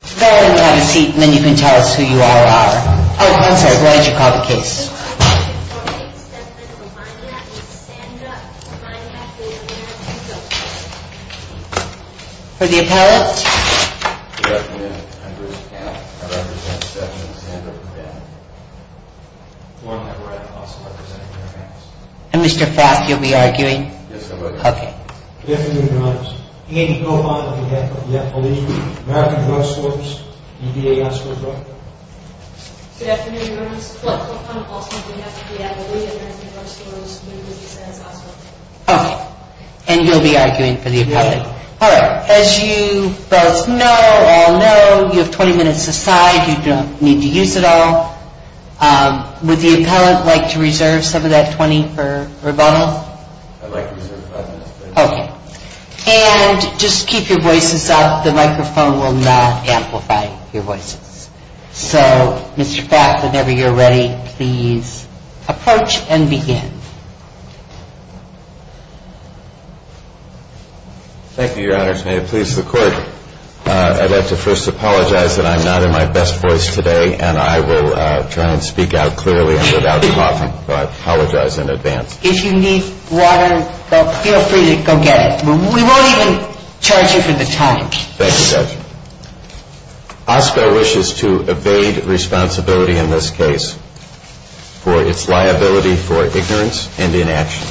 Follow me, we'll have a seat, and then you can tell us who you are or are. Oh, I'm sorry, why don't you call the case? For the appellant? And Mr. Frost, you'll be arguing? Yes, I will. Okay. Good afternoon, Your Honor. Andy Cohan, on behalf of the Appellate, American Drug Stores, UVA Hospital, Brooklyn. Good afternoon, Your Honor. Flip Cohan, also on behalf of the Appellate, American Drug Stores, New Jersey Science Hospital. Okay, and you'll be arguing for the appellant? Yes. All right, as you both know, all know, you have 20 minutes aside, you don't need to use it all. Would the appellant like to reserve some of that 20 for rebuttal? I'd like to reserve 5 minutes, please. Okay. And just keep your voices up, the microphone will not amplify your voices. So, Mr. Frost, whenever you're ready, please approach and begin. Thank you, Your Honor. May it please the Court, I'd like to first apologize that I'm not in my best voice today, and I will try and speak out clearly and without coughing, but I apologize in advance. If you need water, feel free to go get it. We won't even charge you for the time. Thank you, Judge. OSPR wishes to evade responsibility in this case for its liability for ignorance and inaction.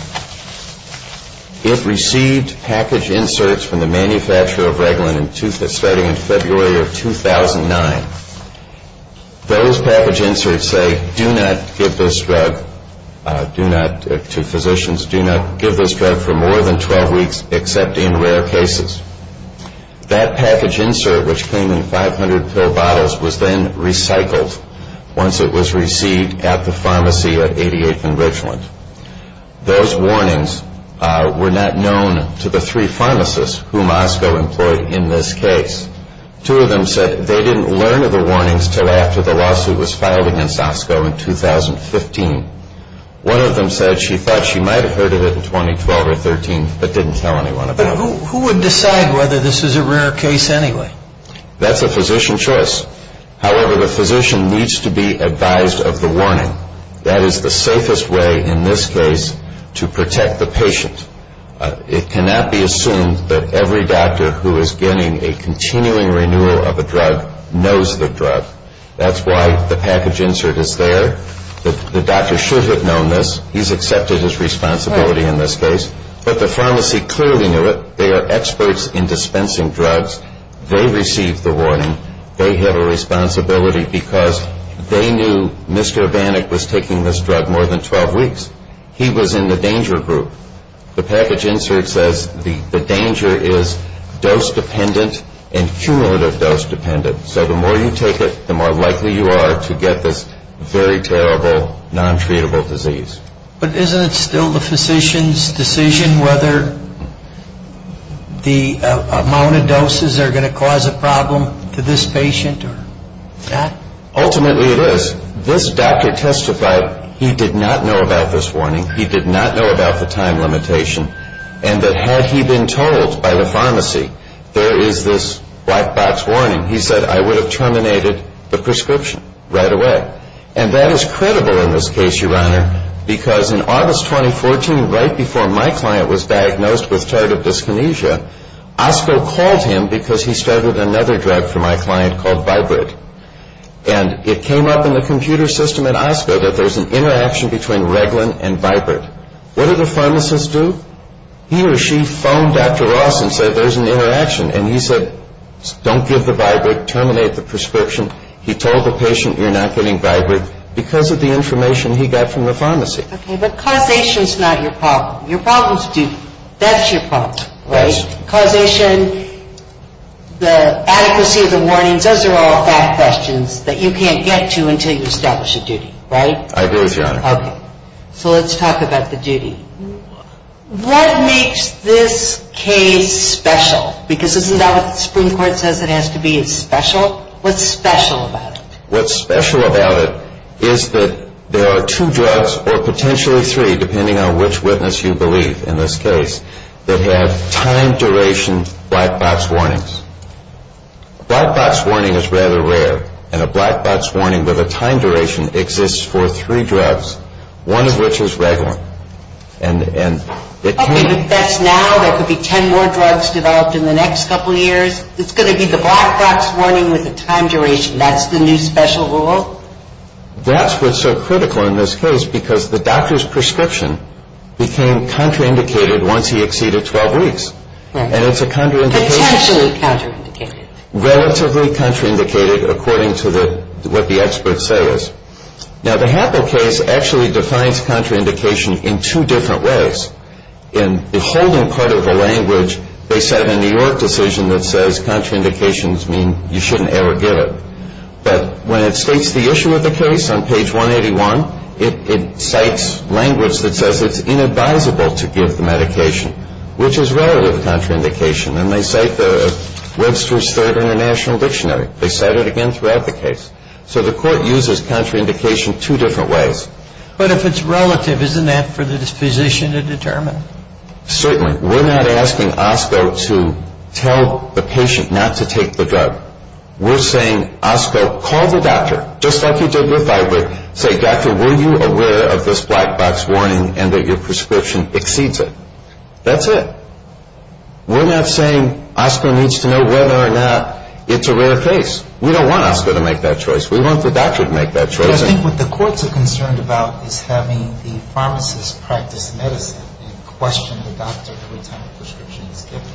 It received package inserts from the manufacturer of Reglan starting in February of 2009. Those package inserts say, do not give this drug, do not, to physicians, do not give this drug for more than 12 weeks except in rare cases. That package insert, which came in 500 pill bottles, was then recycled once it was received at the pharmacy at 88th and Reglan. Those warnings were not known to the three pharmacists whom OSCO employed in this case. Two of them said they didn't learn of the warnings until after the lawsuit was filed against OSCO in 2015. One of them said she thought she might have heard of it in 2012 or 13, but didn't tell anyone about it. But who would decide whether this is a rare case anyway? That's a physician's choice. However, the physician needs to be advised of the warning. That is the safest way in this case to protect the patient. It cannot be assumed that every doctor who is getting a continuing renewal of a drug knows the drug. That's why the package insert is there. The doctor should have known this. He's accepted his responsibility in this case. But the pharmacy clearly knew it. They are experts in dispensing drugs. They received the warning. They have a responsibility because they knew Mr. Banik was taking this drug more than 12 weeks. He was in the danger group. The package insert says the danger is dose-dependent and cumulative dose-dependent. So the more you take it, the more likely you are to get this very terrible, non-treatable disease. But isn't it still the physician's decision whether the amount of doses are going to cause a problem to this patient or that? Ultimately, it is. This doctor testified he did not know about this warning. He did not know about the time limitation. And that had he been told by the pharmacy there is this black box warning, he said, I would have terminated the prescription right away. And that is credible in this case, Your Honor, because in August 2014, right before my client was diagnosed with tardive dyskinesia, OSCO called him because he started another drug for my client called Vibrid. And it came up in the computer system at OSCO that there is an interaction between Reglan and Vibrid. What did the pharmacist do? He or she phoned Dr. Ross and said there is an interaction. And he said don't give the Vibrid, terminate the prescription. He told the patient you're not getting Vibrid because of the information he got from the pharmacy. Okay, but causation is not your problem. Your problem is duty. That's your problem, right? You have questions that you can't get to until you establish a duty, right? I do, Your Honor. Okay. So let's talk about the duty. What makes this case special? Because isn't that what the Supreme Court says it has to be, it's special? What's special about it? What's special about it is that there are two drugs or potentially three, depending on which witness you believe in this case, that have time duration black box warnings. A black box warning is rather rare, and a black box warning with a time duration exists for three drugs, one of which is Reglan. Okay, but that's now. There could be ten more drugs developed in the next couple of years. It's going to be the black box warning with a time duration. That's the new special rule? That's what's so critical in this case because the doctor's prescription became contraindicated once he exceeded 12 weeks. And it's a contraindication. Potentially contraindicated. Relatively contraindicated according to what the experts say is. Now, the Happel case actually defines contraindication in two different ways. In the holding part of the language, they set a New York decision that says contraindications mean you shouldn't ever give it. But when it states the issue of the case on page 181, it cites language that says it's inadvisable to give the medication, which is relative contraindication. And they cite Webster's Third International Dictionary. They cite it again throughout the case. So the court uses contraindication two different ways. But if it's relative, isn't that for the physician to determine? Certainly. We're not asking OSCO to tell the patient not to take the drug. We're saying, OSCO, call the doctor, just like you did with Iverick. Say, doctor, were you aware of this black box warning and that your prescription exceeds it? That's it. We're not saying OSCO needs to know whether or not it's a rare case. We don't want OSCO to make that choice. We want the doctor to make that choice. I think what the courts are concerned about is having the pharmacist practice medicine and question the doctor every time a prescription is given.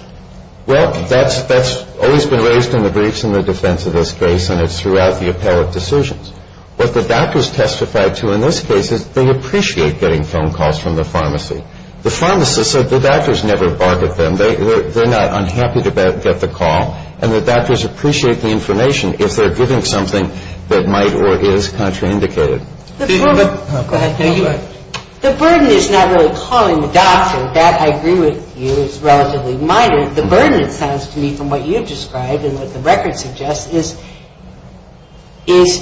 Well, that's always been raised in the briefs in the defense of this case, and it's throughout the appellate decisions. What the doctors testified to in this case is they appreciate getting phone calls from the pharmacy. The pharmacist said the doctors never bark at them. They're not unhappy to get the call, and the doctors appreciate the information if they're given something that might or is contraindicated. Go ahead. The burden is not really calling the doctor. That, I agree with you, is relatively minor. The burden, it sounds to me, from what you've described and what the record suggests, is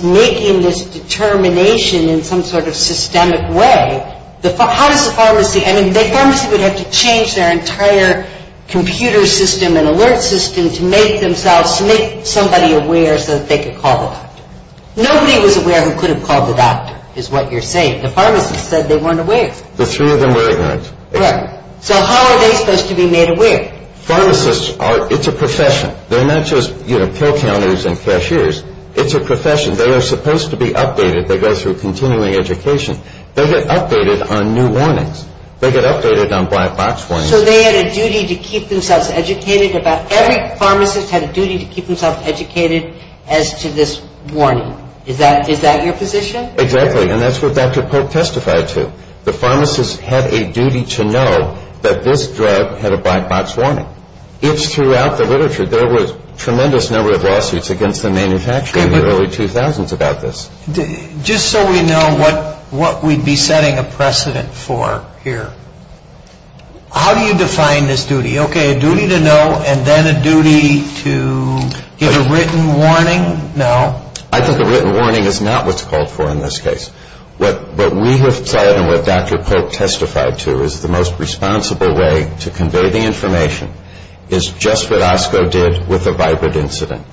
making this determination in some sort of systemic way. How does the pharmacy, I mean, the pharmacy would have to change their entire computer system and alert system to make themselves, to make somebody aware so that they could call the doctor. Nobody was aware who could have called the doctor, is what you're saying. The pharmacist said they weren't aware. The three of them weren't. Right. So how are they supposed to be made aware? Pharmacists are, it's a profession. They're not just, you know, pill counters and cashiers. It's a profession. They are supposed to be updated. They go through continuing education. They get updated on new warnings. They get updated on black box warnings. So they had a duty to keep themselves educated about, every pharmacist had a duty to keep themselves educated as to this warning. Is that your position? Exactly, and that's what Dr. Polk testified to. The pharmacist had a duty to know that this drug had a black box warning. It's throughout the literature. There was a tremendous number of lawsuits against the manufacturer in the early 2000s about this. Just so we know what we'd be setting a precedent for here, how do you define this duty? Okay, a duty to know and then a duty to give a written warning? No. I think a written warning is not what's called for in this case. What we have said and what Dr. Polk testified to is the most responsible way to convey the information is just what OSCO did with the Vibrate incident.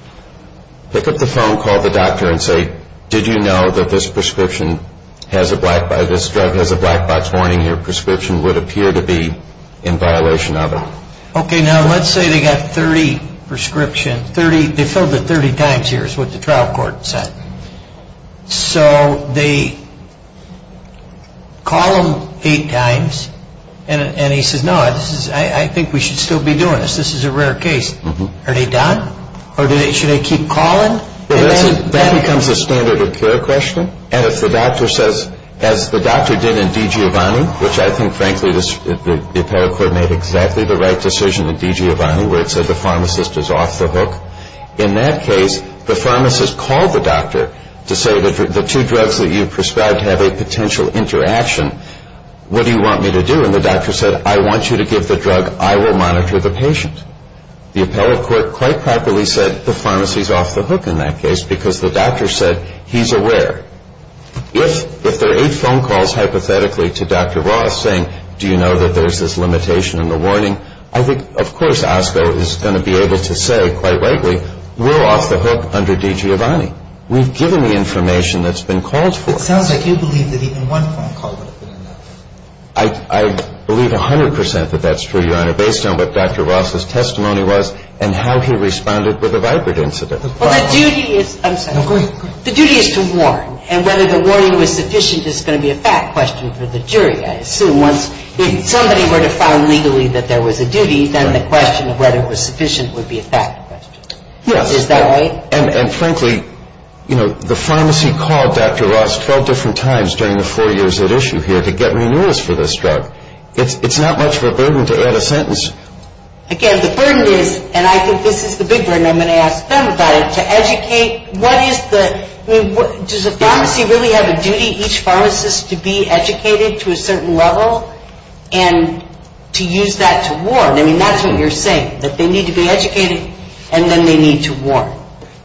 Pick up the phone, call the doctor and say, did you know that this prescription has a black box, this drug has a black box warning? Your prescription would appear to be in violation of it. Okay, now let's say they got 30 prescriptions, they filled it 30 times here is what the trial court said. So they call him eight times and he says, no, I think we should still be doing this. This is a rare case. Are they done or should they keep calling? That becomes a standard of care question. And if the doctor says, as the doctor did in Digiovanni, which I think frankly the apparel court made exactly the right decision in Digiovanni where it said the pharmacist is off the hook. In that case, the pharmacist called the doctor to say the two drugs that you prescribed have a potential interaction. What do you want me to do? And the doctor said, I want you to give the drug. I will monitor the patient. The apparel court quite properly said the pharmacist is off the hook in that case because the doctor said he's aware. If there are eight phone calls hypothetically to Dr. Roth saying, do you know that there's this limitation in the warning? I think, of course, OSCO is going to be able to say quite rightly, we're off the hook under Digiovanni. We've given the information that's been called for. It sounds like you believe that even one phone call would have been enough. I believe 100% that that's true, Your Honor, based on what Dr. Roth's testimony was and how he responded with a vibrant incident. Well, the duty is to warn. And whether the warning was sufficient is going to be a fact question for the jury, I assume, once somebody were to find legally that there was a duty, then the question of whether it was sufficient would be a fact question. Yes. Is that right? And frankly, you know, the pharmacy called Dr. Roth 12 different times during the four years at issue here to get renewals for this drug. It's not much of a burden to add a sentence. Again, the burden is, and I think this is the big burden I'm going to ask them about it, what is the, I mean, does the pharmacy really have a duty, each pharmacist, to be educated to a certain level and to use that to warn? I mean, that's what you're saying, that they need to be educated and then they need to warn.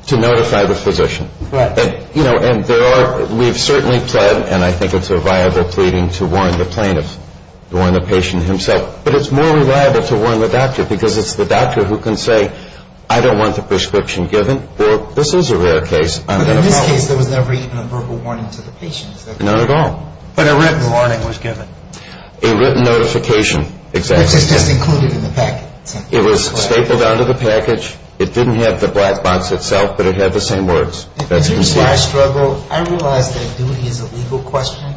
To notify the physician. Right. You know, and there are, we've certainly pled, and I think it's a viable pleading, to warn the plaintiff, to warn the patient himself. But it's more reliable to warn the doctor because it's the doctor who can say, I don't want the prescription given. Well, this is a rare case. But in this case, there was never even a verbal warning to the patient. Not at all. But a written warning was given. A written notification, exactly. Which is just included in the package. It was stapled onto the package. It didn't have the black box itself, but it had the same words. If this is why I struggle, I realize that duty is a legal question,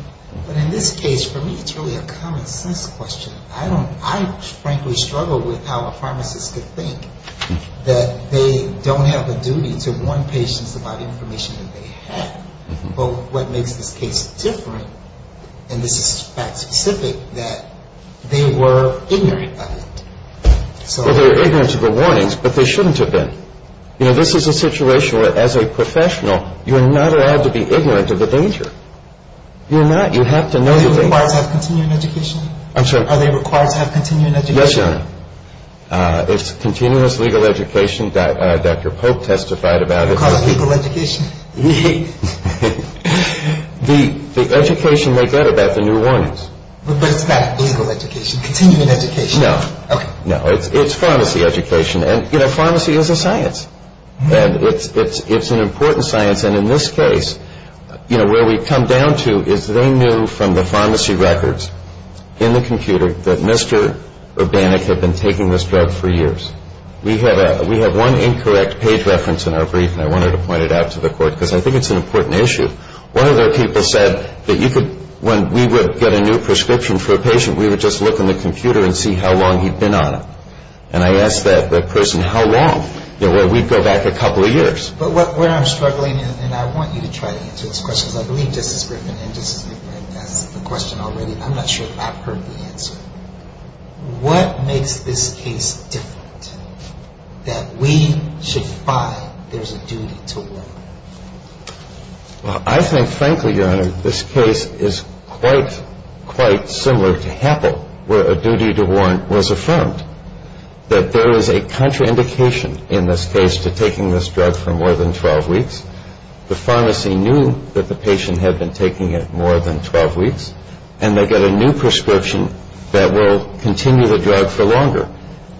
but in this case, for me, it's really a common sense question. I don't, I frankly struggle with how a pharmacist could think that they don't have a duty to warn patients about information that they have. But what makes this case different, and this is fact specific, that they were ignorant of it. Well, they were ignorant of the warnings, but they shouldn't have been. You know, this is a situation where, as a professional, you're not allowed to be ignorant of the danger. You're not. You have to know the danger. Are they required to have continuing education? I'm sorry? Are they required to have continuing education? Yes, Your Honor. It's continuous legal education. Dr. Polk testified about it. You call it legal education? The education they get about the new warnings. But it's not legal education, continuing education? No. Okay. No, it's pharmacy education, and, you know, pharmacy is a science. And it's an important science, and in this case, you know, where we come down to is they knew from the pharmacy records in the computer that Mr. Urbanek had been taking this drug for years. We have one incorrect page reference in our brief, and I wanted to point it out to the Court, because I think it's an important issue. One of their people said that you could, when we would get a new prescription for a patient, we would just look in the computer and see how long he'd been on it. And I asked that person, how long? You know, well, we'd go back a couple of years. But where I'm struggling, and I want you to try to answer this question, because I believe Justice Griffin and Justice McMillan asked the question already. I'm not sure if I've heard the answer. What makes this case different, that we should find there's a duty to warrant? Well, I think, frankly, Your Honor, this case is quite similar to Happel, where a duty to warrant was affirmed, that there is a contraindication in this case to taking this drug for more than 12 weeks. The pharmacy knew that the patient had been taking it more than 12 weeks, and they get a new prescription that will continue the drug for longer.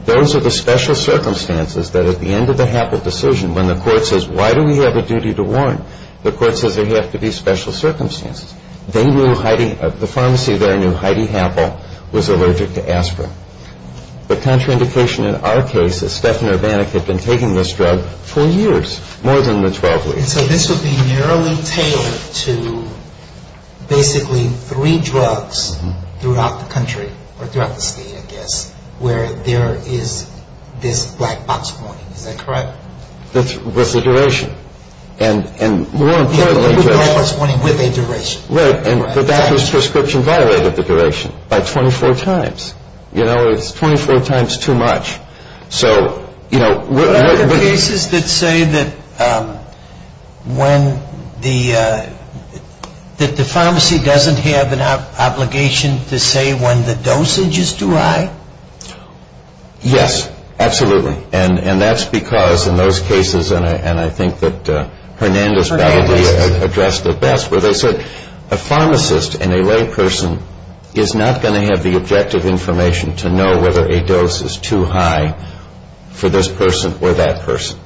Those are the special circumstances that, at the end of the Happel decision, when the Court says, why do we have a duty to warrant, the Court says there have to be special circumstances. They knew Heidi, the pharmacy there knew Heidi Happel was allergic to aspirin. The contraindication in our case is Stefan Urbanik had been taking this drug for years, more than the 12 weeks. And so this would be narrowly tailored to basically three drugs throughout the country, or throughout the state, I guess, where there is this black box warning. Is that correct? With the duration. And more importantly... Black box warning with a duration. Right, and the doctor's prescription violated the duration by 24 times. You know, it's 24 times too much. So, you know... Are there cases that say that the pharmacy doesn't have an obligation to say when the dosage is too high? Yes, absolutely. And that's because in those cases, and I think that Hernandez-Balade addressed it best, where they said a pharmacist and a layperson is not going to have the objective information to know whether a dose is too high for this person or that person.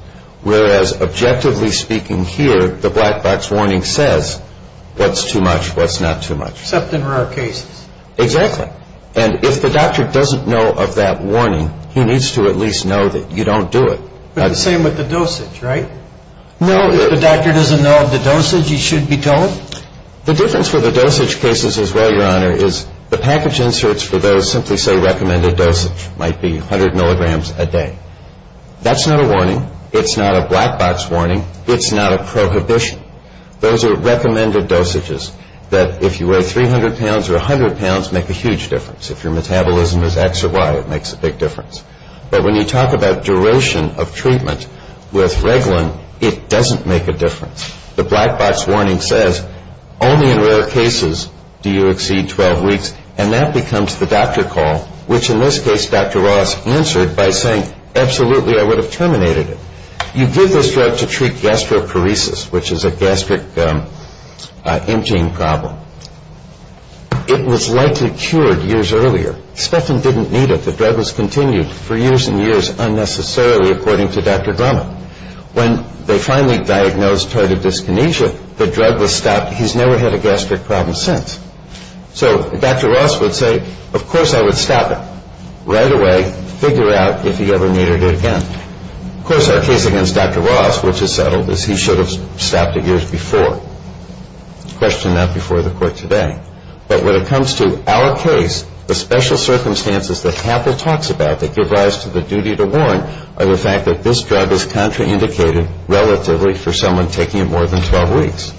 Whereas, objectively speaking here, the black box warning says what's too much, what's not too much. Except in rare cases. Exactly. And if the doctor doesn't know of that warning, he needs to at least know that you don't do it. But the same with the dosage, right? No. If the doctor doesn't know of the dosage, he should be told? The difference with the dosage cases as well, Your Honor, is the package inserts for those simply say recommended dosage might be 100 milligrams a day. That's not a warning. It's not a black box warning. It's not a prohibition. Those are recommended dosages that if you weigh 300 pounds or 100 pounds, make a huge difference. If your metabolism is X or Y, it makes a big difference. But when you talk about duration of treatment with Reglan, it doesn't make a difference. The black box warning says only in rare cases do you exceed 12 weeks, and that becomes the doctor call, which in this case Dr. Ross answered by saying, absolutely, I would have terminated it. You give this drug to treat gastroparesis, which is a gastric emptying problem. It was likely cured years earlier. Stefan didn't need it. The drug was continued for years and years unnecessarily, according to Dr. Drummond. When they finally diagnosed tardive dyskinesia, the drug was stopped. He's never had a gastric problem since. So Dr. Ross would say, of course I would stop it. Right away, figure out if he ever needed it again. Of course, our case against Dr. Ross, which is settled, is he should have stopped it years before. Question not before the court today. But when it comes to our case, the special circumstances that Happel talks about that give rise to the duty to warn are the fact that this drug is contraindicated relatively for someone taking it more than 12 weeks.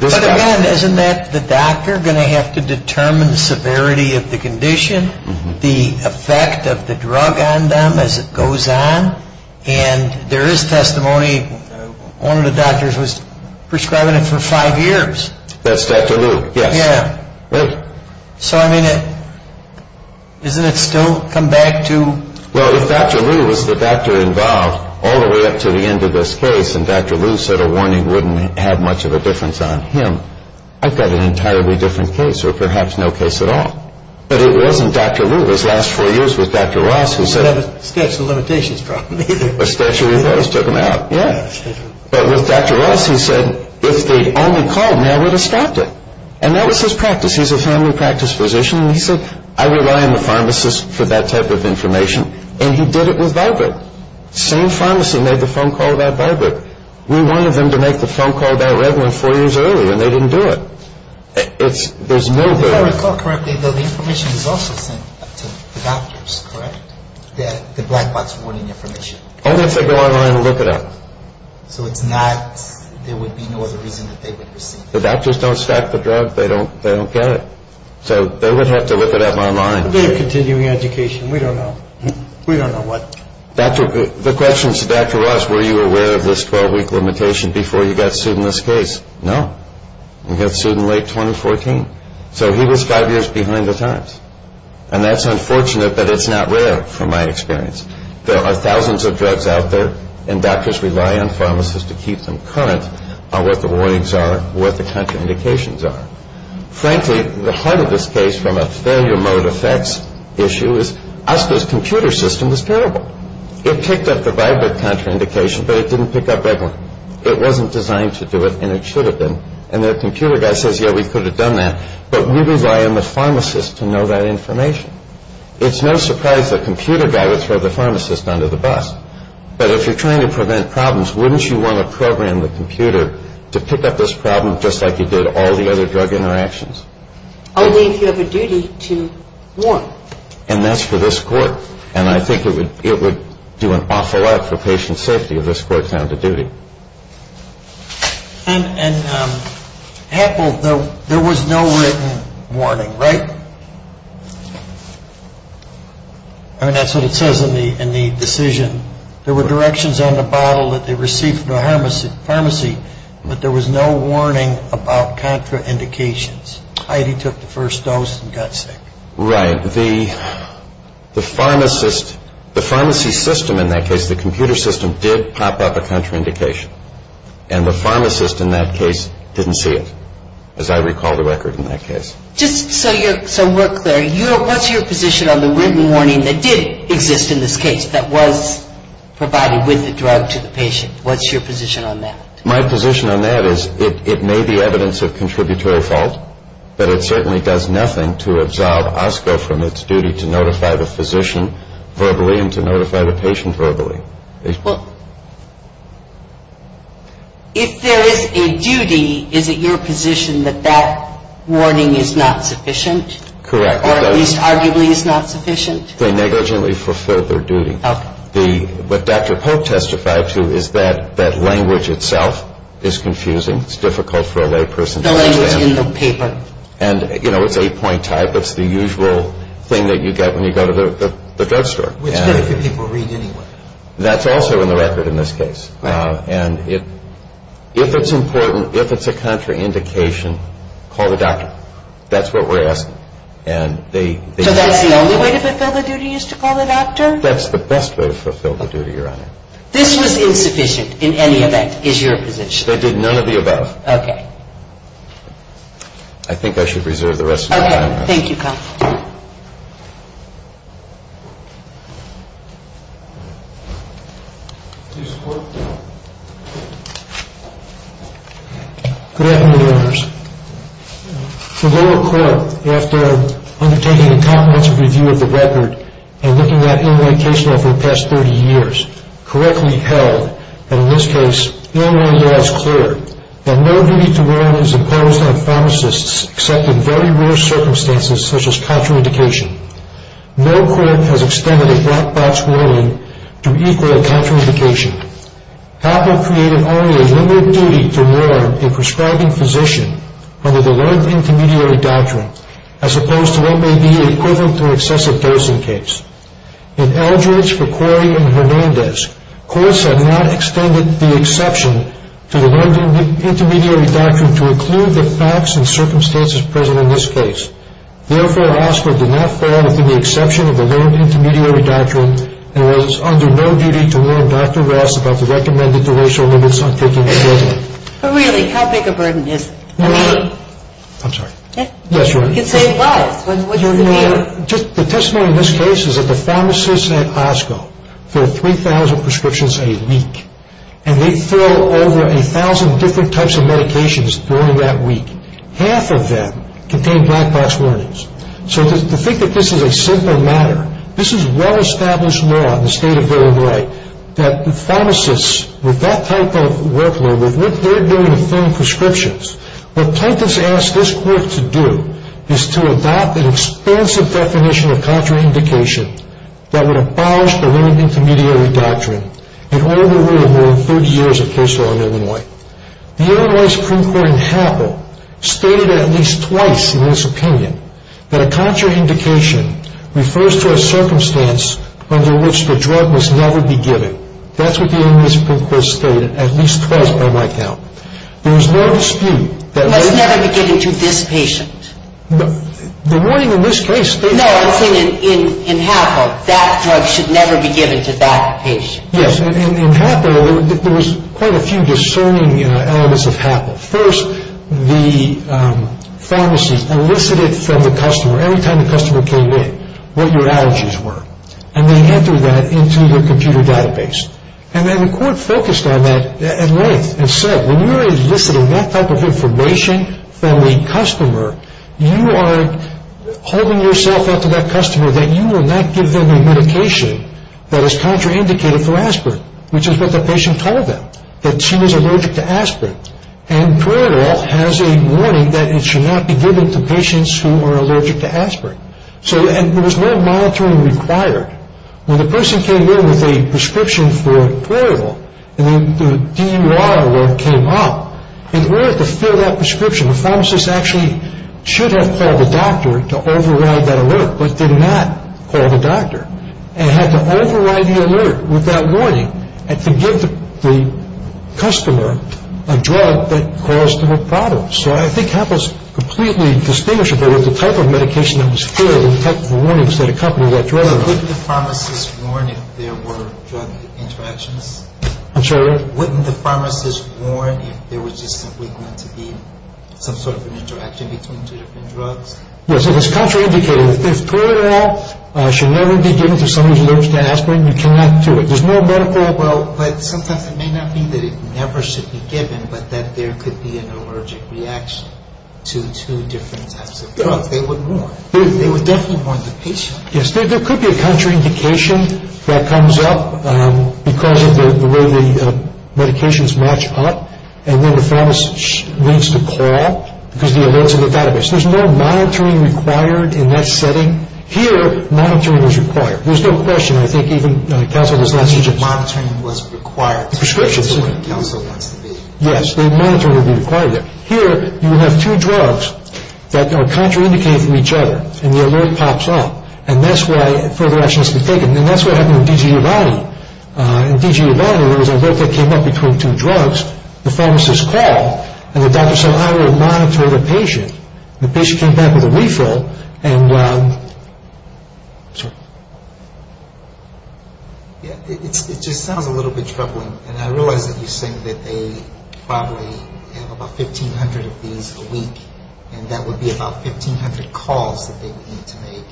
But again, isn't that the doctor going to have to determine the severity of the condition, the effect of the drug on them as it goes on? And there is testimony one of the doctors was prescribing it for five years. That's Dr. Luke, yes. So I mean, isn't it still come back to... Well, if Dr. Luke was the doctor involved all the way up to the end of this case and Dr. Luke said a warning wouldn't have much of a difference on him, I've got an entirely different case or perhaps no case at all. But it wasn't Dr. Luke. Those last four years with Dr. Ross who said... He didn't have a statute of limitations problem either. A statute of limits took him out, yes. But with Dr. Ross who said, if they'd only called me, I would have stopped it. And that was his practice. He's a family practice physician and he said, I rely on the pharmacist for that type of information. And he did it with Vibrant. Same pharmacy made the phone call about Vibrant. We wanted them to make the phone call about Revlin four years earlier and they didn't do it. There's no... If I recall correctly, the information is also sent to the doctors, correct? The black box warning information. Only if they go online and look it up. So it's not, there would be no other reason that they would receive it. The doctors don't stack the drug. They don't get it. So they would have to look it up online. They're continuing education. We don't know. We don't know what. The question to Dr. Ross, were you aware of this 12-week limitation before you got sued in this case? No. You got sued in late 2014. So he was five years behind the times. And that's unfortunate, but it's not rare from my experience. There are thousands of drugs out there and doctors rely on pharmacists to keep them current on what the warnings are, what the contraindications are. Frankly, the heart of this case from a failure mode effects issue is us, this computer system, is terrible. It picked up the Vibrant contraindication, but it didn't pick up Revlin. It wasn't designed to do it and it should have been. And the computer guy says, yeah, we could have done that. But we rely on the pharmacist to know that information. It's no surprise the computer guy would throw the pharmacist under the bus. But if you're trying to prevent problems, wouldn't you want to program the computer to pick up this problem just like you did all the other drug interactions? Only if you have a duty to warn. And that's for this court. And I think it would do an awful lot for patient safety if this court found a duty. And Apple, there was no written warning, right? I mean, that's what it says in the decision. There were directions on the bottle that they received from the pharmacy, but there was no warning about contraindications. Heidi took the first dose and got sick. Right. The pharmacist, the pharmacy system in that case, the computer system, did pop up a contraindication. And the pharmacist in that case didn't see it, as I recall the record in that case. Just so we're clear, what's your position on the written warning that did exist in this case that was provided with the drug to the patient? What's your position on that? My position on that is it may be evidence of contributory fault, but it certainly does nothing to absolve OSCO from its duty to notify the physician verbally and to notify the patient verbally. Well, if there is a duty, is it your position that that warning is not sufficient? Correct. Or at least arguably is not sufficient? They negligently fulfilled their duty. Okay. What Dr. Pope testified to is that that language itself is confusing. It's difficult for a layperson to understand. The language in the paper. And, you know, it's eight-point type. It's the usual thing that you get when you go to the drugstore. Which very few people read anyway. That's also in the record in this case. Right. And if it's important, if it's a contraindication, call the doctor. That's what we're asking. So that's the only way to fulfill the duty is to call the doctor? That's the best way to fulfill the duty, Your Honor. This was insufficient in any event, is your position? They did none of the above. Okay. I think I should reserve the rest of my time. Thank you, counsel. Do you support? Good afternoon, Your Honors. The lower court, after undertaking a comprehensive review of the record and looking at illumination over the past 30 years, correctly held that, in this case, Illinois law is clear that no duty to warn is imposed on pharmacists except in very rare circumstances, such as contraindication. No court has extended a black box warning to equal contraindication. Apple created only a limited duty to warn a prescribing physician under the learned intermediary doctrine, as opposed to what may be equivalent to an excessive dosing case. In Eldridge, McCoy, and Hernandez, courts have not extended the exception to the learned intermediary doctrine to include the facts and circumstances present in this case. Therefore, OSCO did not fall within the exception of the learned intermediary doctrine and was under no duty to warn Dr. Rass about the recommended duration limits on taking a dosing. But really, how big a burden is it? I'm sorry. Yes, Your Honor. You can say it was. Your Honor, just the testimony in this case is that the pharmacists at OSCO fill 3,000 prescriptions a week, and they fill over 1,000 different types of medications during that week. Half of them contain black box warnings. So to think that this is a simple matter, this is well-established law in the state of Illinois that pharmacists, with that type of workload, with what they're doing to fill prescriptions, What plaintiffs asked this court to do is to adopt an expansive definition of contraindication that would abolish the learned intermediary doctrine in all the rule of law in 30 years of case law in Illinois. The Illinois Supreme Court in Happel stated at least twice in this opinion that a contraindication refers to a circumstance under which the drug must never be given. That's what the Illinois Supreme Court stated at least twice by my count. There was no dispute that... It must never be given to this patient. The warning in this case... No, I'm saying in Happel, that drug should never be given to that patient. Yes, in Happel, there was quite a few discerning elements of Happel. First, the pharmacist elicited from the customer, every time the customer came in, what your allergies were. And they entered that into their computer database. And then the court focused on that at length and said, when you're eliciting that type of information from a customer, you are holding yourself out to that customer that you will not give them a medication that is contraindicated for aspirin, which is what the patient told them, that she was allergic to aspirin. And Puerto Rico has a warning that it should not be given to patients who are allergic to aspirin. And there was no monitoring required. When the person came in with a prescription for Puerto Rico, and the DUR alert came up, in order to fill that prescription, the pharmacist actually should have called the doctor to override that alert, but did not call the doctor, and had to override the alert with that warning and to give the customer a drug that caused them a problem. So I think Happel is completely distinguishable with the type of medication that was filled and the type of warnings that accompanied that drug. So wouldn't the pharmacist warn if there were drug interactions? I'm sorry, what? Wouldn't the pharmacist warn if there was just simply going to be some sort of an interaction between two different drugs? Yes, and it's contraindicated. If Puerto Rico should never be given to somebody who doesn't understand aspirin, you cannot do it. There's no medical... Well, but sometimes it may not be that it never should be given, but that there could be an allergic reaction to two different types of drugs. They would warn. They would definitely warn the patient. Yes, there could be a contraindication that comes up because of the way the medications match up, and then the pharmacist needs to call because the alerts are not database. There's no monitoring required in that setting. Here, monitoring is required. There's no question. I think even counsel does not suggest... The monitoring was required. The prescriptions... That's the way the counsel wants to be. Yes, the monitoring would be required there. Here, you would have two drugs that are contraindicated from each other, and the alert pops up. And that's why further action has to be taken. And that's what happened with DG Ubaldi. In DG Ubaldi, there was an alert that came up between two drugs. The pharmacist called, and the doctor said, I will monitor the patient. The patient came back with a refill, and... Sorry. It just sounds a little bit troubling, and that would be about 1,500 calls that they would need to make.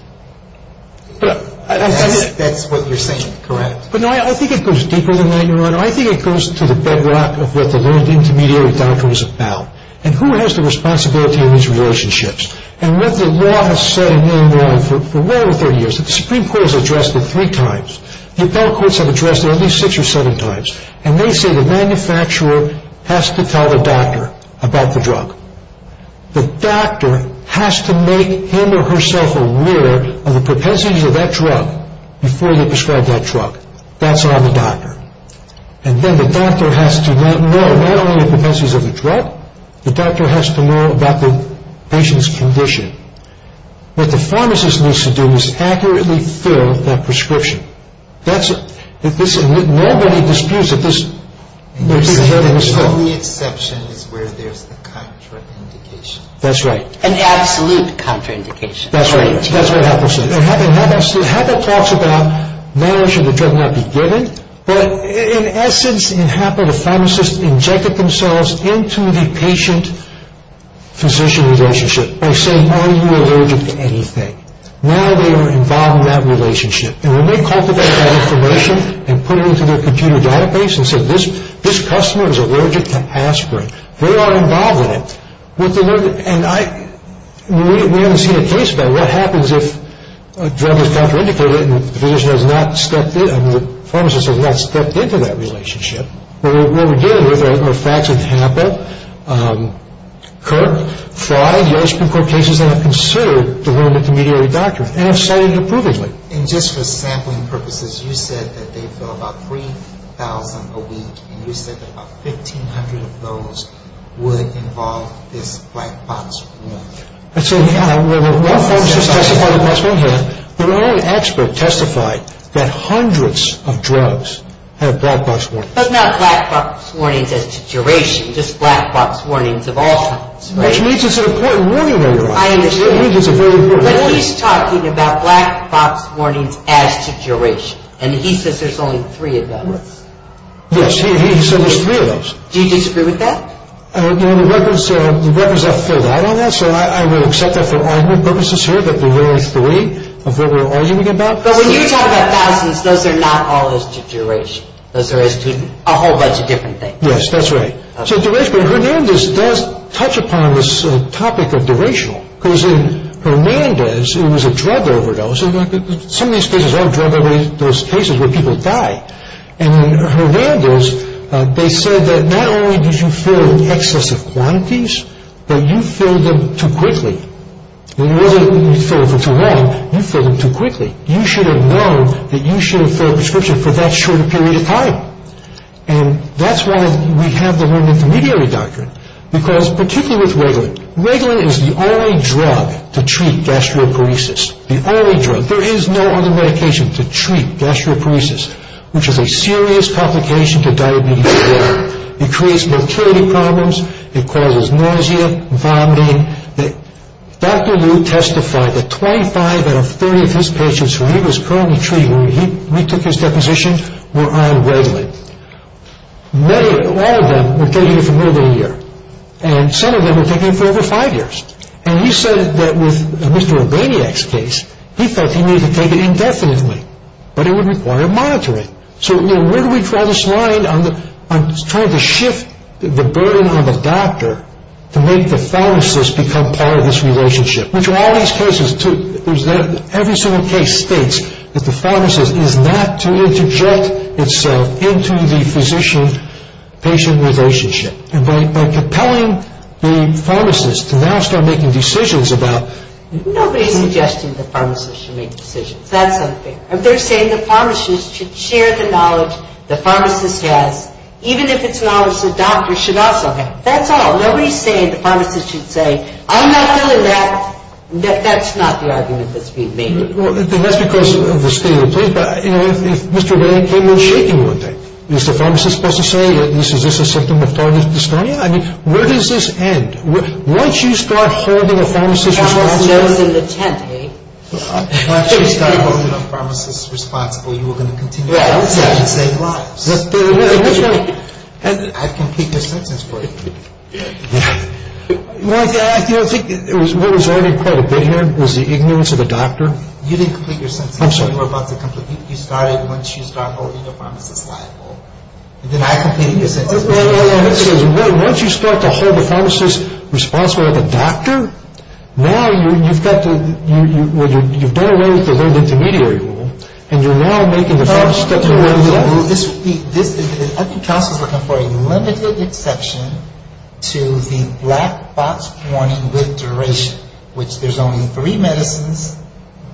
That's what you're saying, correct? No, I think it goes deeper than that, Your Honor. I think it goes to the bedrock of what the learned intermediary doctor is about and who has the responsibility in these relationships. And what the law has said for well over 30 years, the Supreme Court has addressed it three times. The appellate courts have addressed it at least six or seven times, and they say the manufacturer has to tell the doctor about the drug. The doctor has to make him or herself aware of the propensities of that drug before they prescribe that drug. That's on the doctor. And then the doctor has to not know not only the propensities of the drug, the doctor has to know about the patient's condition. What the pharmacist needs to do is accurately fill that prescription. That's it. Nobody disputes it. You're saying that the only exception is where there's a contraindication. That's right. An absolute contraindication. That's right. That's what happens. And HAPA talks about not only should the drug not be given, but in essence, in HAPA, the pharmacist injected themselves into the patient-physician relationship by saying, are you allergic to anything? Now they are involved in that relationship. And when they cultivate that information and put it into their computer database and say this customer is allergic to aspirin, they are involved in it. And we haven't seen a case about what happens if a drug is contraindicated and the pharmacist has not stepped into that relationship. What we're dealing with are facts in HAPA, Kirk, Fry, the ice cream court cases that are considered to limit the mediary document and have cited it approvably. And just for sampling purposes, you said that they fill about 3,000 a week and you said that about 1,500 of those would involve this black box warning. So, yeah. Well, pharmacists testify to black box warnings, but my own expert testified that hundreds of drugs have black box warnings. But not black box warnings as to duration, just black box warnings of all kinds. Which means it's an important warning that you're on. I understand. It means it's a very important warning. But he's talking about black box warnings as to duration, and he says there's only three of those. Yes. He said there's three of those. Do you disagree with that? The records are filled out on that, so I will accept that for argument purposes here that there were three of what we're arguing about. But when you talk about thousands, those are not all as to duration. Those are as to a whole bunch of different things. Yes, that's right. So, duration. But Hernandez does touch upon this topic of duration. Because in Hernandez, it was a drug overdose. Some of these cases are drug overdose cases where people die. And in Hernandez, they said that not only did you fill in excessive quantities, but you filled them too quickly. It wasn't that you filled them for too long, you filled them too quickly. You should have known that you should have filled a prescription for that short a period of time. And that's why we have the room intermediary doctrine. Because particularly with Reglan, Reglan is the only drug to treat gastroparesis. The only drug. There is no other medication to treat gastroparesis, which is a serious complication to diabetes. It creates motility problems. It causes nausea, vomiting. Dr. Liu testified that 25 out of 30 of his patients who he was currently treating when he retook his deposition were on Reglan. All of them were taking it for more than a year. And some of them were taking it for over five years. And he said that with Mr. Albaniak's case, he thought he needed to take it indefinitely. But it would require monitoring. So, where do we draw this line on trying to shift the burden on the doctor to make the pharmacist become part of this relationship? Which in all these cases, every single case states that the pharmacist is not to interject itself into the physician-patient relationship. And by compelling the pharmacist to now start making decisions about... Nobody's suggesting the pharmacist should make decisions. That's something. They're saying the pharmacist should share the knowledge the pharmacist has, even if it's knowledge the doctor should also have. That's all. Whatever he's saying, the pharmacist should say, I'm not feeling that, that that's not the argument that's being made. And that's because of the state of the place. But, you know, if Mr. Albaniak came in shaking one day, is the pharmacist supposed to say, is this a symptom of target dystonia? I mean, where does this end? Once you start holding a pharmacist responsible... The pharmacist knows in the tent, eh? Once you start holding a pharmacist responsible, you are going to continue to have the same lives. I can take your sentence for it. I think what was already quite a bit here was the ignorance of the doctor. You didn't complete your sentence. I'm sorry. You started once you started holding the pharmacist liable. Then I completed your sentence. Once you start to hold the pharmacist responsible like a doctor, now you've got to... you've done away with the intermediary rule, and you're now making the pharmacist... Well, this would be... I think counsel's looking for a limited exception to the black box warning with duration, which there's only three medicines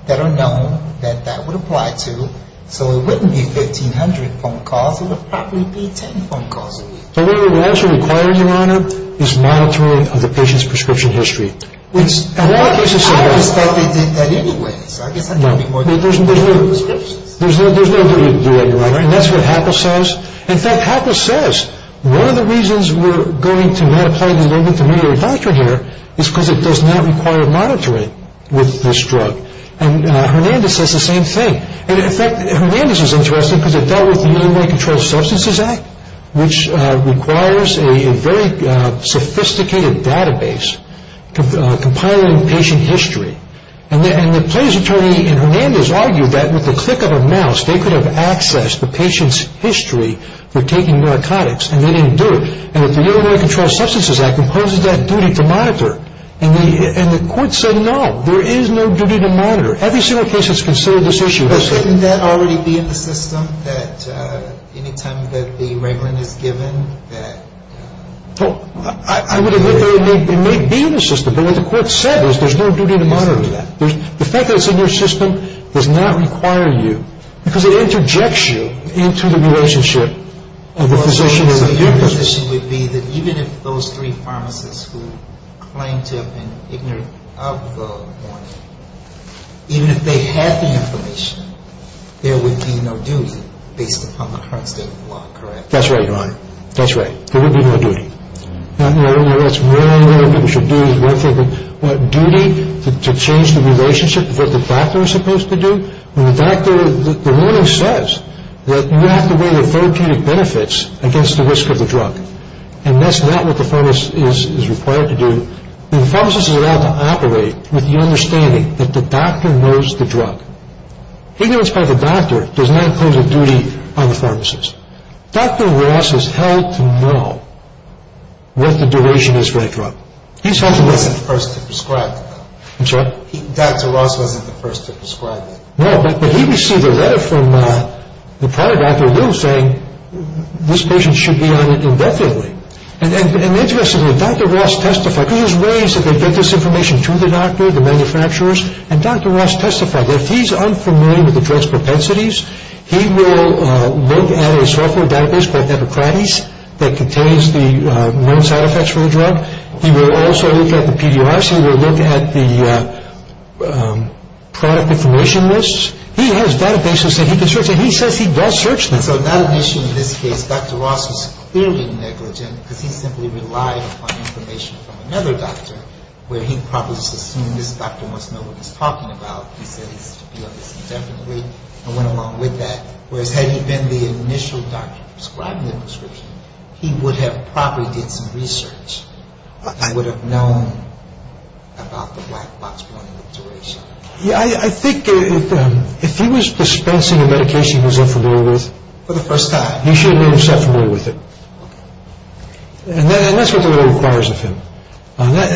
that are known that that would apply to. So it wouldn't be 1,500 phone calls. It would probably be 10 phone calls a week. So what we're actually requiring, Your Honor, is monitoring of the patient's prescription history. I just thought they did that anyway. So I guess that's going to be more than one prescription. There's no way you can do that, Your Honor. And that's what Hackel says. In fact, Hackel says one of the reasons we're going to not apply the limited intermediary doctrine here is because it does not require monitoring with this drug. And Hernandez says the same thing. And, in fact, Hernandez is interested because it dealt with the Illinois Controlled Substances Act, which requires a very sophisticated database compiling patient history. And the plaintiff's attorney in Hernandez argued that, with the click of a mouse, they could have accessed the patient's history for taking narcotics, and they didn't do it. And with the Illinois Controlled Substances Act, it imposes that duty to monitor. And the court said, no, there is no duty to monitor. Every single case that's considered this issue has said it. But wouldn't that already be in the system that any time that the regulant is given that... I would have hoped that it may be in the system. But what the court said is there's no duty to monitor that. The fact that it's in your system does not require you, because it interjects you into the relationship of the physician and the... So your position would be that even if those three pharmacists who claim to have been ignorant of the warning, even if they had the information, there would be no duty based upon the current state of the law, correct? That's right, Your Honor. That's right. There would be no duty. Now, Your Honor, that's wrong. What we should do is we're thinking what duty to change the relationship of what the doctor is supposed to do. When the doctor... The warning says that you have to weigh the therapeutic benefits against the risk of the drug. And that's not what the pharmacist is required to do. The pharmacist is allowed to operate with the understanding that the doctor knows the drug. Ignorance by the doctor does not impose a duty on the pharmacist. Dr. Ross is held to know what the duration is for the drug. He's held to know... He wasn't the first to prescribe the drug. I'm sorry? Dr. Ross wasn't the first to prescribe it. No, but he received a letter from the prior doctor, Will, saying this patient should be on it indefinitely. And interestingly, Dr. Ross testified. He was worried that they'd get this information to the doctor, the manufacturers, and Dr. Ross testified that if he's unfamiliar with the drug's propensities, he will look at a software database called Epocrates that contains the known side effects for the drug. He will also look at the PDRs. He will look at the product information lists. He has databases that he can search, and he says he does search them. So that issue in this case, Dr. Ross was clearly negligent because he simply relied upon information from another doctor where he probably just assumed this doctor must know what he's talking about. He said he's to be on this indefinitely and went along with that. Whereas had he been the initial doctor prescribing the prescription, he would have probably did some research. I would have known about the black box warning of duration. Yeah, I think if he was dispensing a medication he wasn't familiar with... For the first time. He should have been familiar with it. And that's what the law requires of him. And I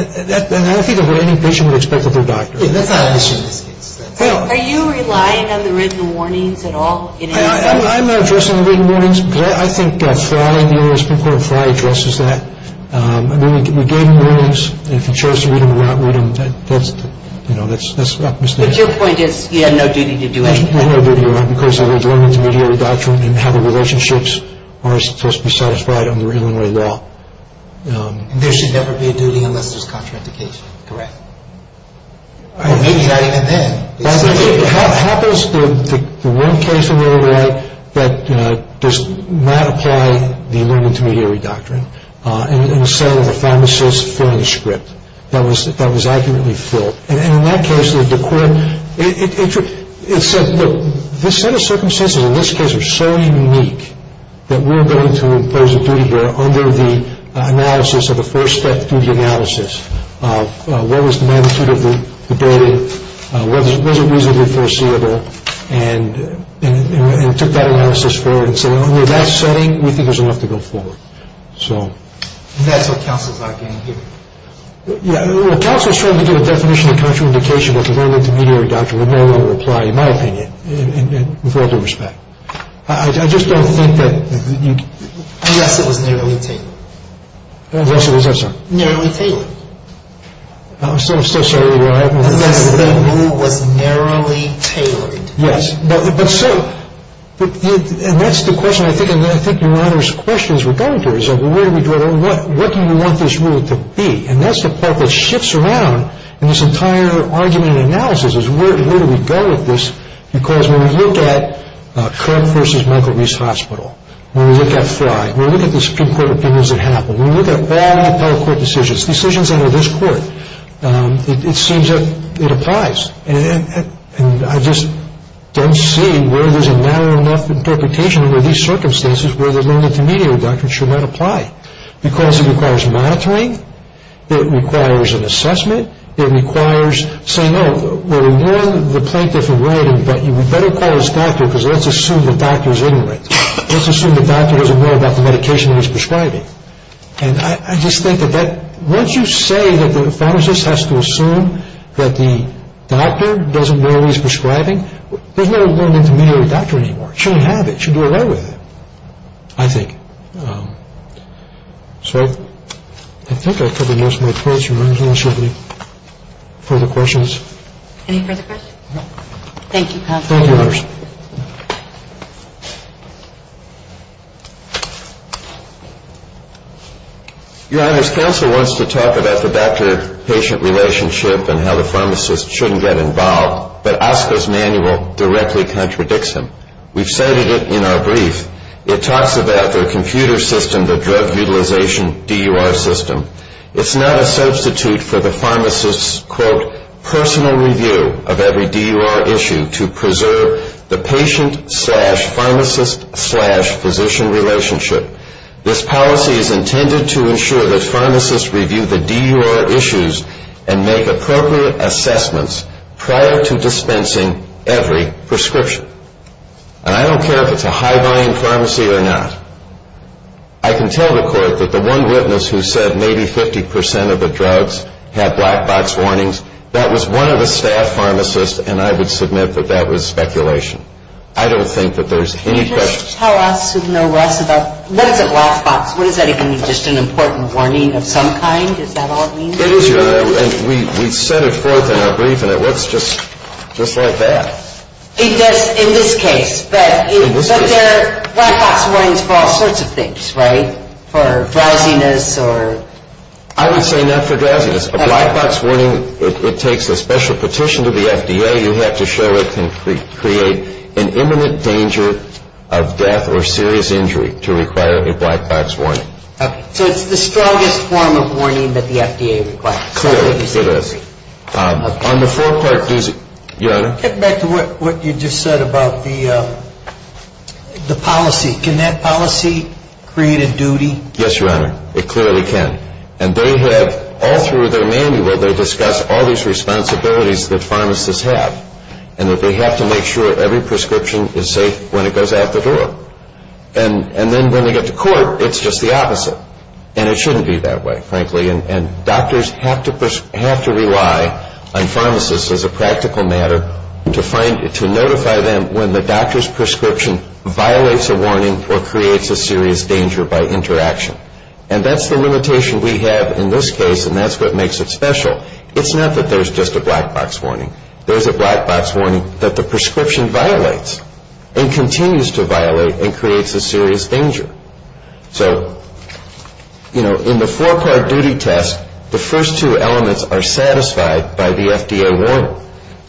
think that's what any patient would expect of their doctor. Are you relying on the written warnings at all? I'm not addressing the written warnings, but I think Frey addresses that. We gave him warnings, and if he chose to read them or not read them, that's a mistake. There's no duty on him because of his learned intermediary doctrine and how the relationships are supposed to be satisfied under Illinois law. There should never be a duty unless there's contraindication. Correct. Maybe not even then. How does the one case in Illinois that does not apply the learned intermediary doctrine, in the cell of a pharmacist filling a script that was accurately filled, and in that case it said, look, this set of circumstances in this case are so unique that we're going to impose a duty there under the analysis of the first step duty analysis of what was the magnitude of the day, was it reasonably foreseeable, and took that analysis forward and said, under that setting, we think there's enough to go forward. And that's what counsel's not getting here. Well, counsel's trying to give a definition of contraindication, but the learned intermediary doctrine would no longer apply, in my opinion, with all due respect. I just don't think that you can. Unless it was narrowly tailored. Unless it was what? Narrowly tailored. I'm so sorry to interrupt. Unless the rule was narrowly tailored. Yes, but so, and that's the question I think, and I think your Honor's questions were going to, what do you want this rule to be? And that's the part that shifts around in this entire argument and analysis is where do we go with this? Because when we look at Kirk v. Michael Reese Hospital, when we look at Fry, when we look at the Supreme Court opinions that happened, when we look at all the appellate court decisions, decisions under this court, it seems that it applies. And I just don't see where there's a narrow enough interpretation under these circumstances where the learned intermediary doctrine should not apply. Because it requires monitoring. It requires an assessment. It requires saying, oh, well, we warned the plaintiff already, but we better call his doctor because let's assume the doctor's ignorant. Let's assume the doctor doesn't know about the medication he's prescribing. And I just think that once you say that the pharmacist has to assume that the doctor doesn't know he's prescribing, there's no learned intermediary doctrine anymore. You shouldn't have it. You should do away with it, I think. So I think I've covered most of my points, Your Honor. Is there any further questions? Any further questions? No. Thank you, counsel. Thank you, Your Honor. Your Honor, as counsel wants to talk about the doctor-patient relationship and how the pharmacist shouldn't get involved, but Oscar's manual directly contradicts him. We've cited it in our brief. It talks about their computer system, their drug utilization DUR system. It's not a substitute for the pharmacist's, quote, personal review of every DUR issue to preserve the patient-slash-pharmacist-slash-physician relationship. This policy is intended to ensure that pharmacists review the DUR issues and make appropriate assessments prior to dispensing every prescription. And I don't care if it's a high-buying pharmacy or not. I can tell the court that the one witness who said maybe 50 percent of the drugs had black-box warnings, that was one of the staff pharmacists, and I would submit that that was speculation. I don't think that there's any question. Could you tell us, you know, Russ, about what is a black-box? What does that even mean? Just an important warning of some kind? Is that all it means? It is, Your Honor, and we set it forth in our brief, and it looks just like that. It does in this case, but there are black-box warnings for all sorts of things, right? For drowsiness or... I would say not for drowsiness. A black-box warning, it takes a special petition to the FDA. You have to show it can create an imminent danger of death or serious injury to require a black-box warning. Okay. So it's the strongest form of warning that the FDA requires. Clearly, it is. On the four-part DUR, Your Honor? Getting back to what you just said about the policy, can that policy create a duty? Yes, Your Honor, it clearly can. And they have, all through their manual, they discuss all these responsibilities that pharmacists have and that they have to make sure every prescription is safe when it goes out the door. And then when they get to court, it's just the opposite. And it shouldn't be that way, frankly, and doctors have to rely on pharmacists as a practical matter to notify them when the doctor's prescription violates a warning or creates a serious danger by interaction. And that's the limitation we have in this case, and that's what makes it special. It's not that there's just a black-box warning. There's a black-box warning that the prescription violates and continues to violate and creates a serious danger. So, you know, in the four-part duty test, the first two elements are satisfied by the FDA warning.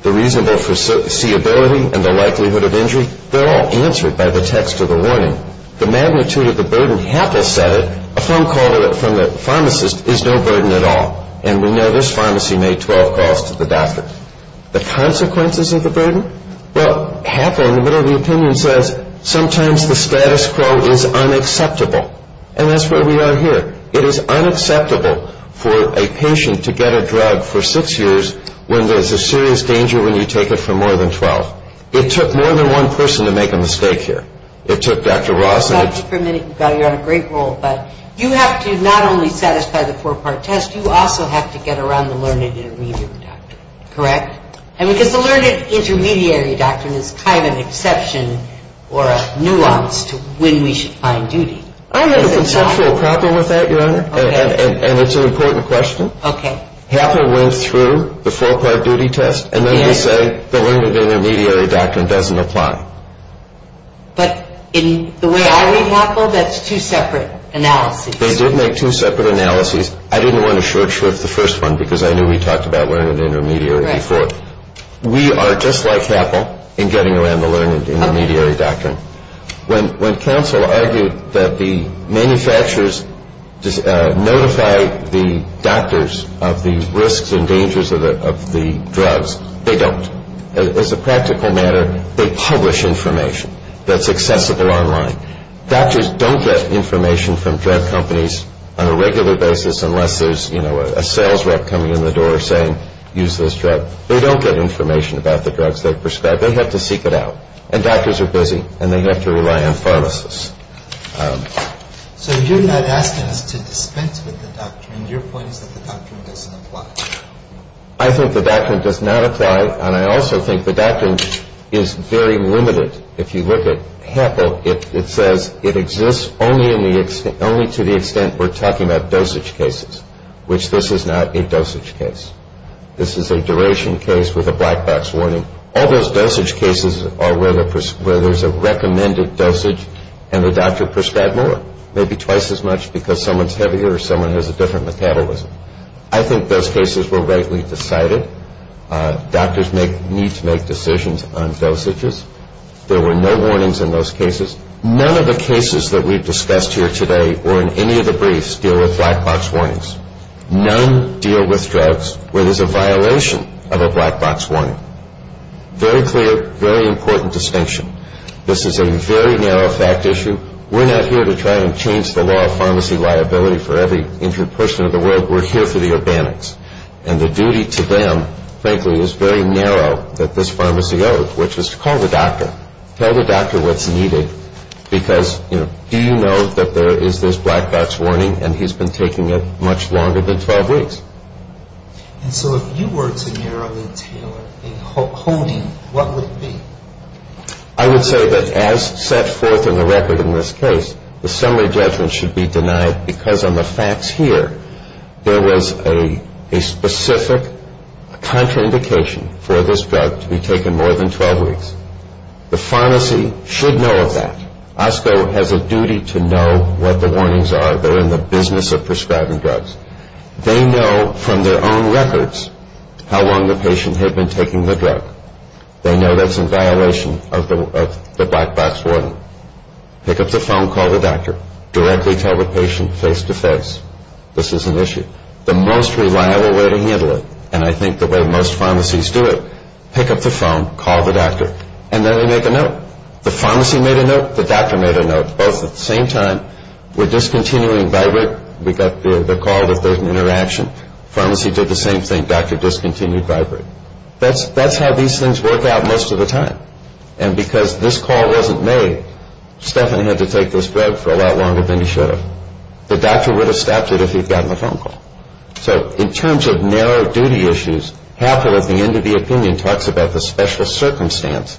The reasonable foreseeability and the likelihood of injury, they're all answered by the text of the warning. The magnitude of the burden, Happel said it, a phone call from the pharmacist is no burden at all. And we know this pharmacy made 12 calls to the doctor. The consequences of the burden? Well, Happel, in the middle of the opinion, says sometimes the status quo is unacceptable. And that's where we are here. It is unacceptable for a patient to get a drug for six years when there's a serious danger when you take it for more than 12. It took more than one person to make a mistake here. It took Dr. Ross. Thank you for a minute. You're on a great roll. But you have to not only satisfy the four-part test, you also have to get around the learned intermediary doctrine. Correct? I mean, because the learned intermediary doctrine is kind of an exception or a nuance to when we should find duty. I have a conceptual problem with that, Your Honor, and it's an important question. Okay. Happel went through the four-part duty test, and then he said the learned intermediary doctrine doesn't apply. But in the way I read Happel, that's two separate analyses. They did make two separate analyses. I didn't want to short-shrift the first one because I knew we talked about learned intermediary before. Right. We are just like Happel in getting around the learned intermediary doctrine. When counsel argued that the manufacturers notify the doctors of the risks and dangers of the drugs, they don't. As a practical matter, they publish information that's accessible online. Doctors don't get information from drug companies on a regular basis unless there's a sales rep coming in the door saying, use this drug. They don't get information about the drugs they prescribe. They have to seek it out. And doctors are busy, and they have to rely on pharmacists. So you're not asking us to dispense with the doctrine. Your point is that the doctrine doesn't apply. I think the doctrine does not apply, and I also think the doctrine is very limited. If you look at Happel, it says it exists only to the extent we're talking about dosage cases, which this is not a dosage case. This is a duration case with a black box warning. All those dosage cases are where there's a recommended dosage, and the doctor prescribed more, maybe twice as much because someone's heavier or someone has a different metabolism. I think those cases were rightly decided. Doctors need to make decisions on dosages. There were no warnings in those cases. None of the cases that we've discussed here today or in any of the briefs deal with black box warnings. None deal with drugs where there's a violation of a black box warning. Very clear, very important distinction. This is a very narrow fact issue. We're not here to try and change the law of pharmacy liability for every injured person in the world. We're here for the organics. And the duty to them, frankly, is very narrow that this pharmacy owes, which is to call the doctor. Tell the doctor what's needed because, you know, do you know that there is this black box warning and he's been taking it much longer than 12 weeks? And so if you were to narrow the tail of a holding, what would it be? I would say that as set forth in the record in this case, the summary judgment should be denied because on the facts here, there was a specific contraindication for this drug to be taken more than 12 weeks. The pharmacy should know of that. OSCO has a duty to know what the warnings are. They're in the business of prescribing drugs. They know from their own records how long the patient had been taking the drug. They know that's in violation of the black box warning. Pick up the phone, call the doctor. Directly tell the patient face-to-face this is an issue. The most reliable way to handle it, and I think the way most pharmacies do it, pick up the phone, call the doctor, and then they make a note. The pharmacy made a note. The doctor made a note. Both at the same time, we're discontinuing Vibrate. We got the call that there's an interaction. Pharmacy did the same thing. Doctor discontinued Vibrate. That's how these things work out most of the time. And because this call wasn't made, Stephan had to take this drug for a lot longer than he should have. The doctor would have stopped it if he'd gotten a phone call. So in terms of narrow duty issues, Halfel at the end of the opinion talks about the special circumstance,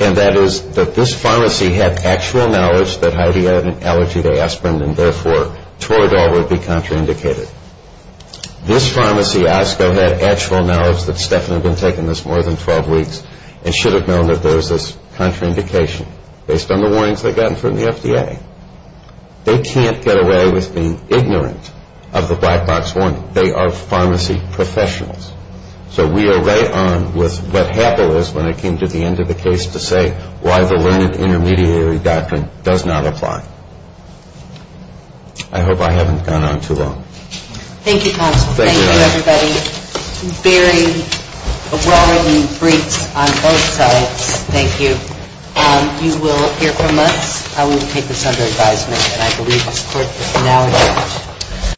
and that is that this pharmacy had actual knowledge that Heidi had an allergy to aspirin and therefore Toradol would be contraindicated. This pharmacy, OSCO, had actual knowledge that Stephan had been taking this more than 12 weeks and should have known that there was this contraindication based on the warnings they'd gotten from the FDA. They can't get away with being ignorant of the black box warning. They are pharmacy professionals. So we are right on with what Halfel is when it came to the end of the case to say why the limited intermediary doctrine does not apply. I hope I haven't gone on too long. Thank you, counsel. Thank you, everybody. Very broad and brief on both sides. Thank you. You will hear from us. I will take this under advisement and I believe the court is now adjourned.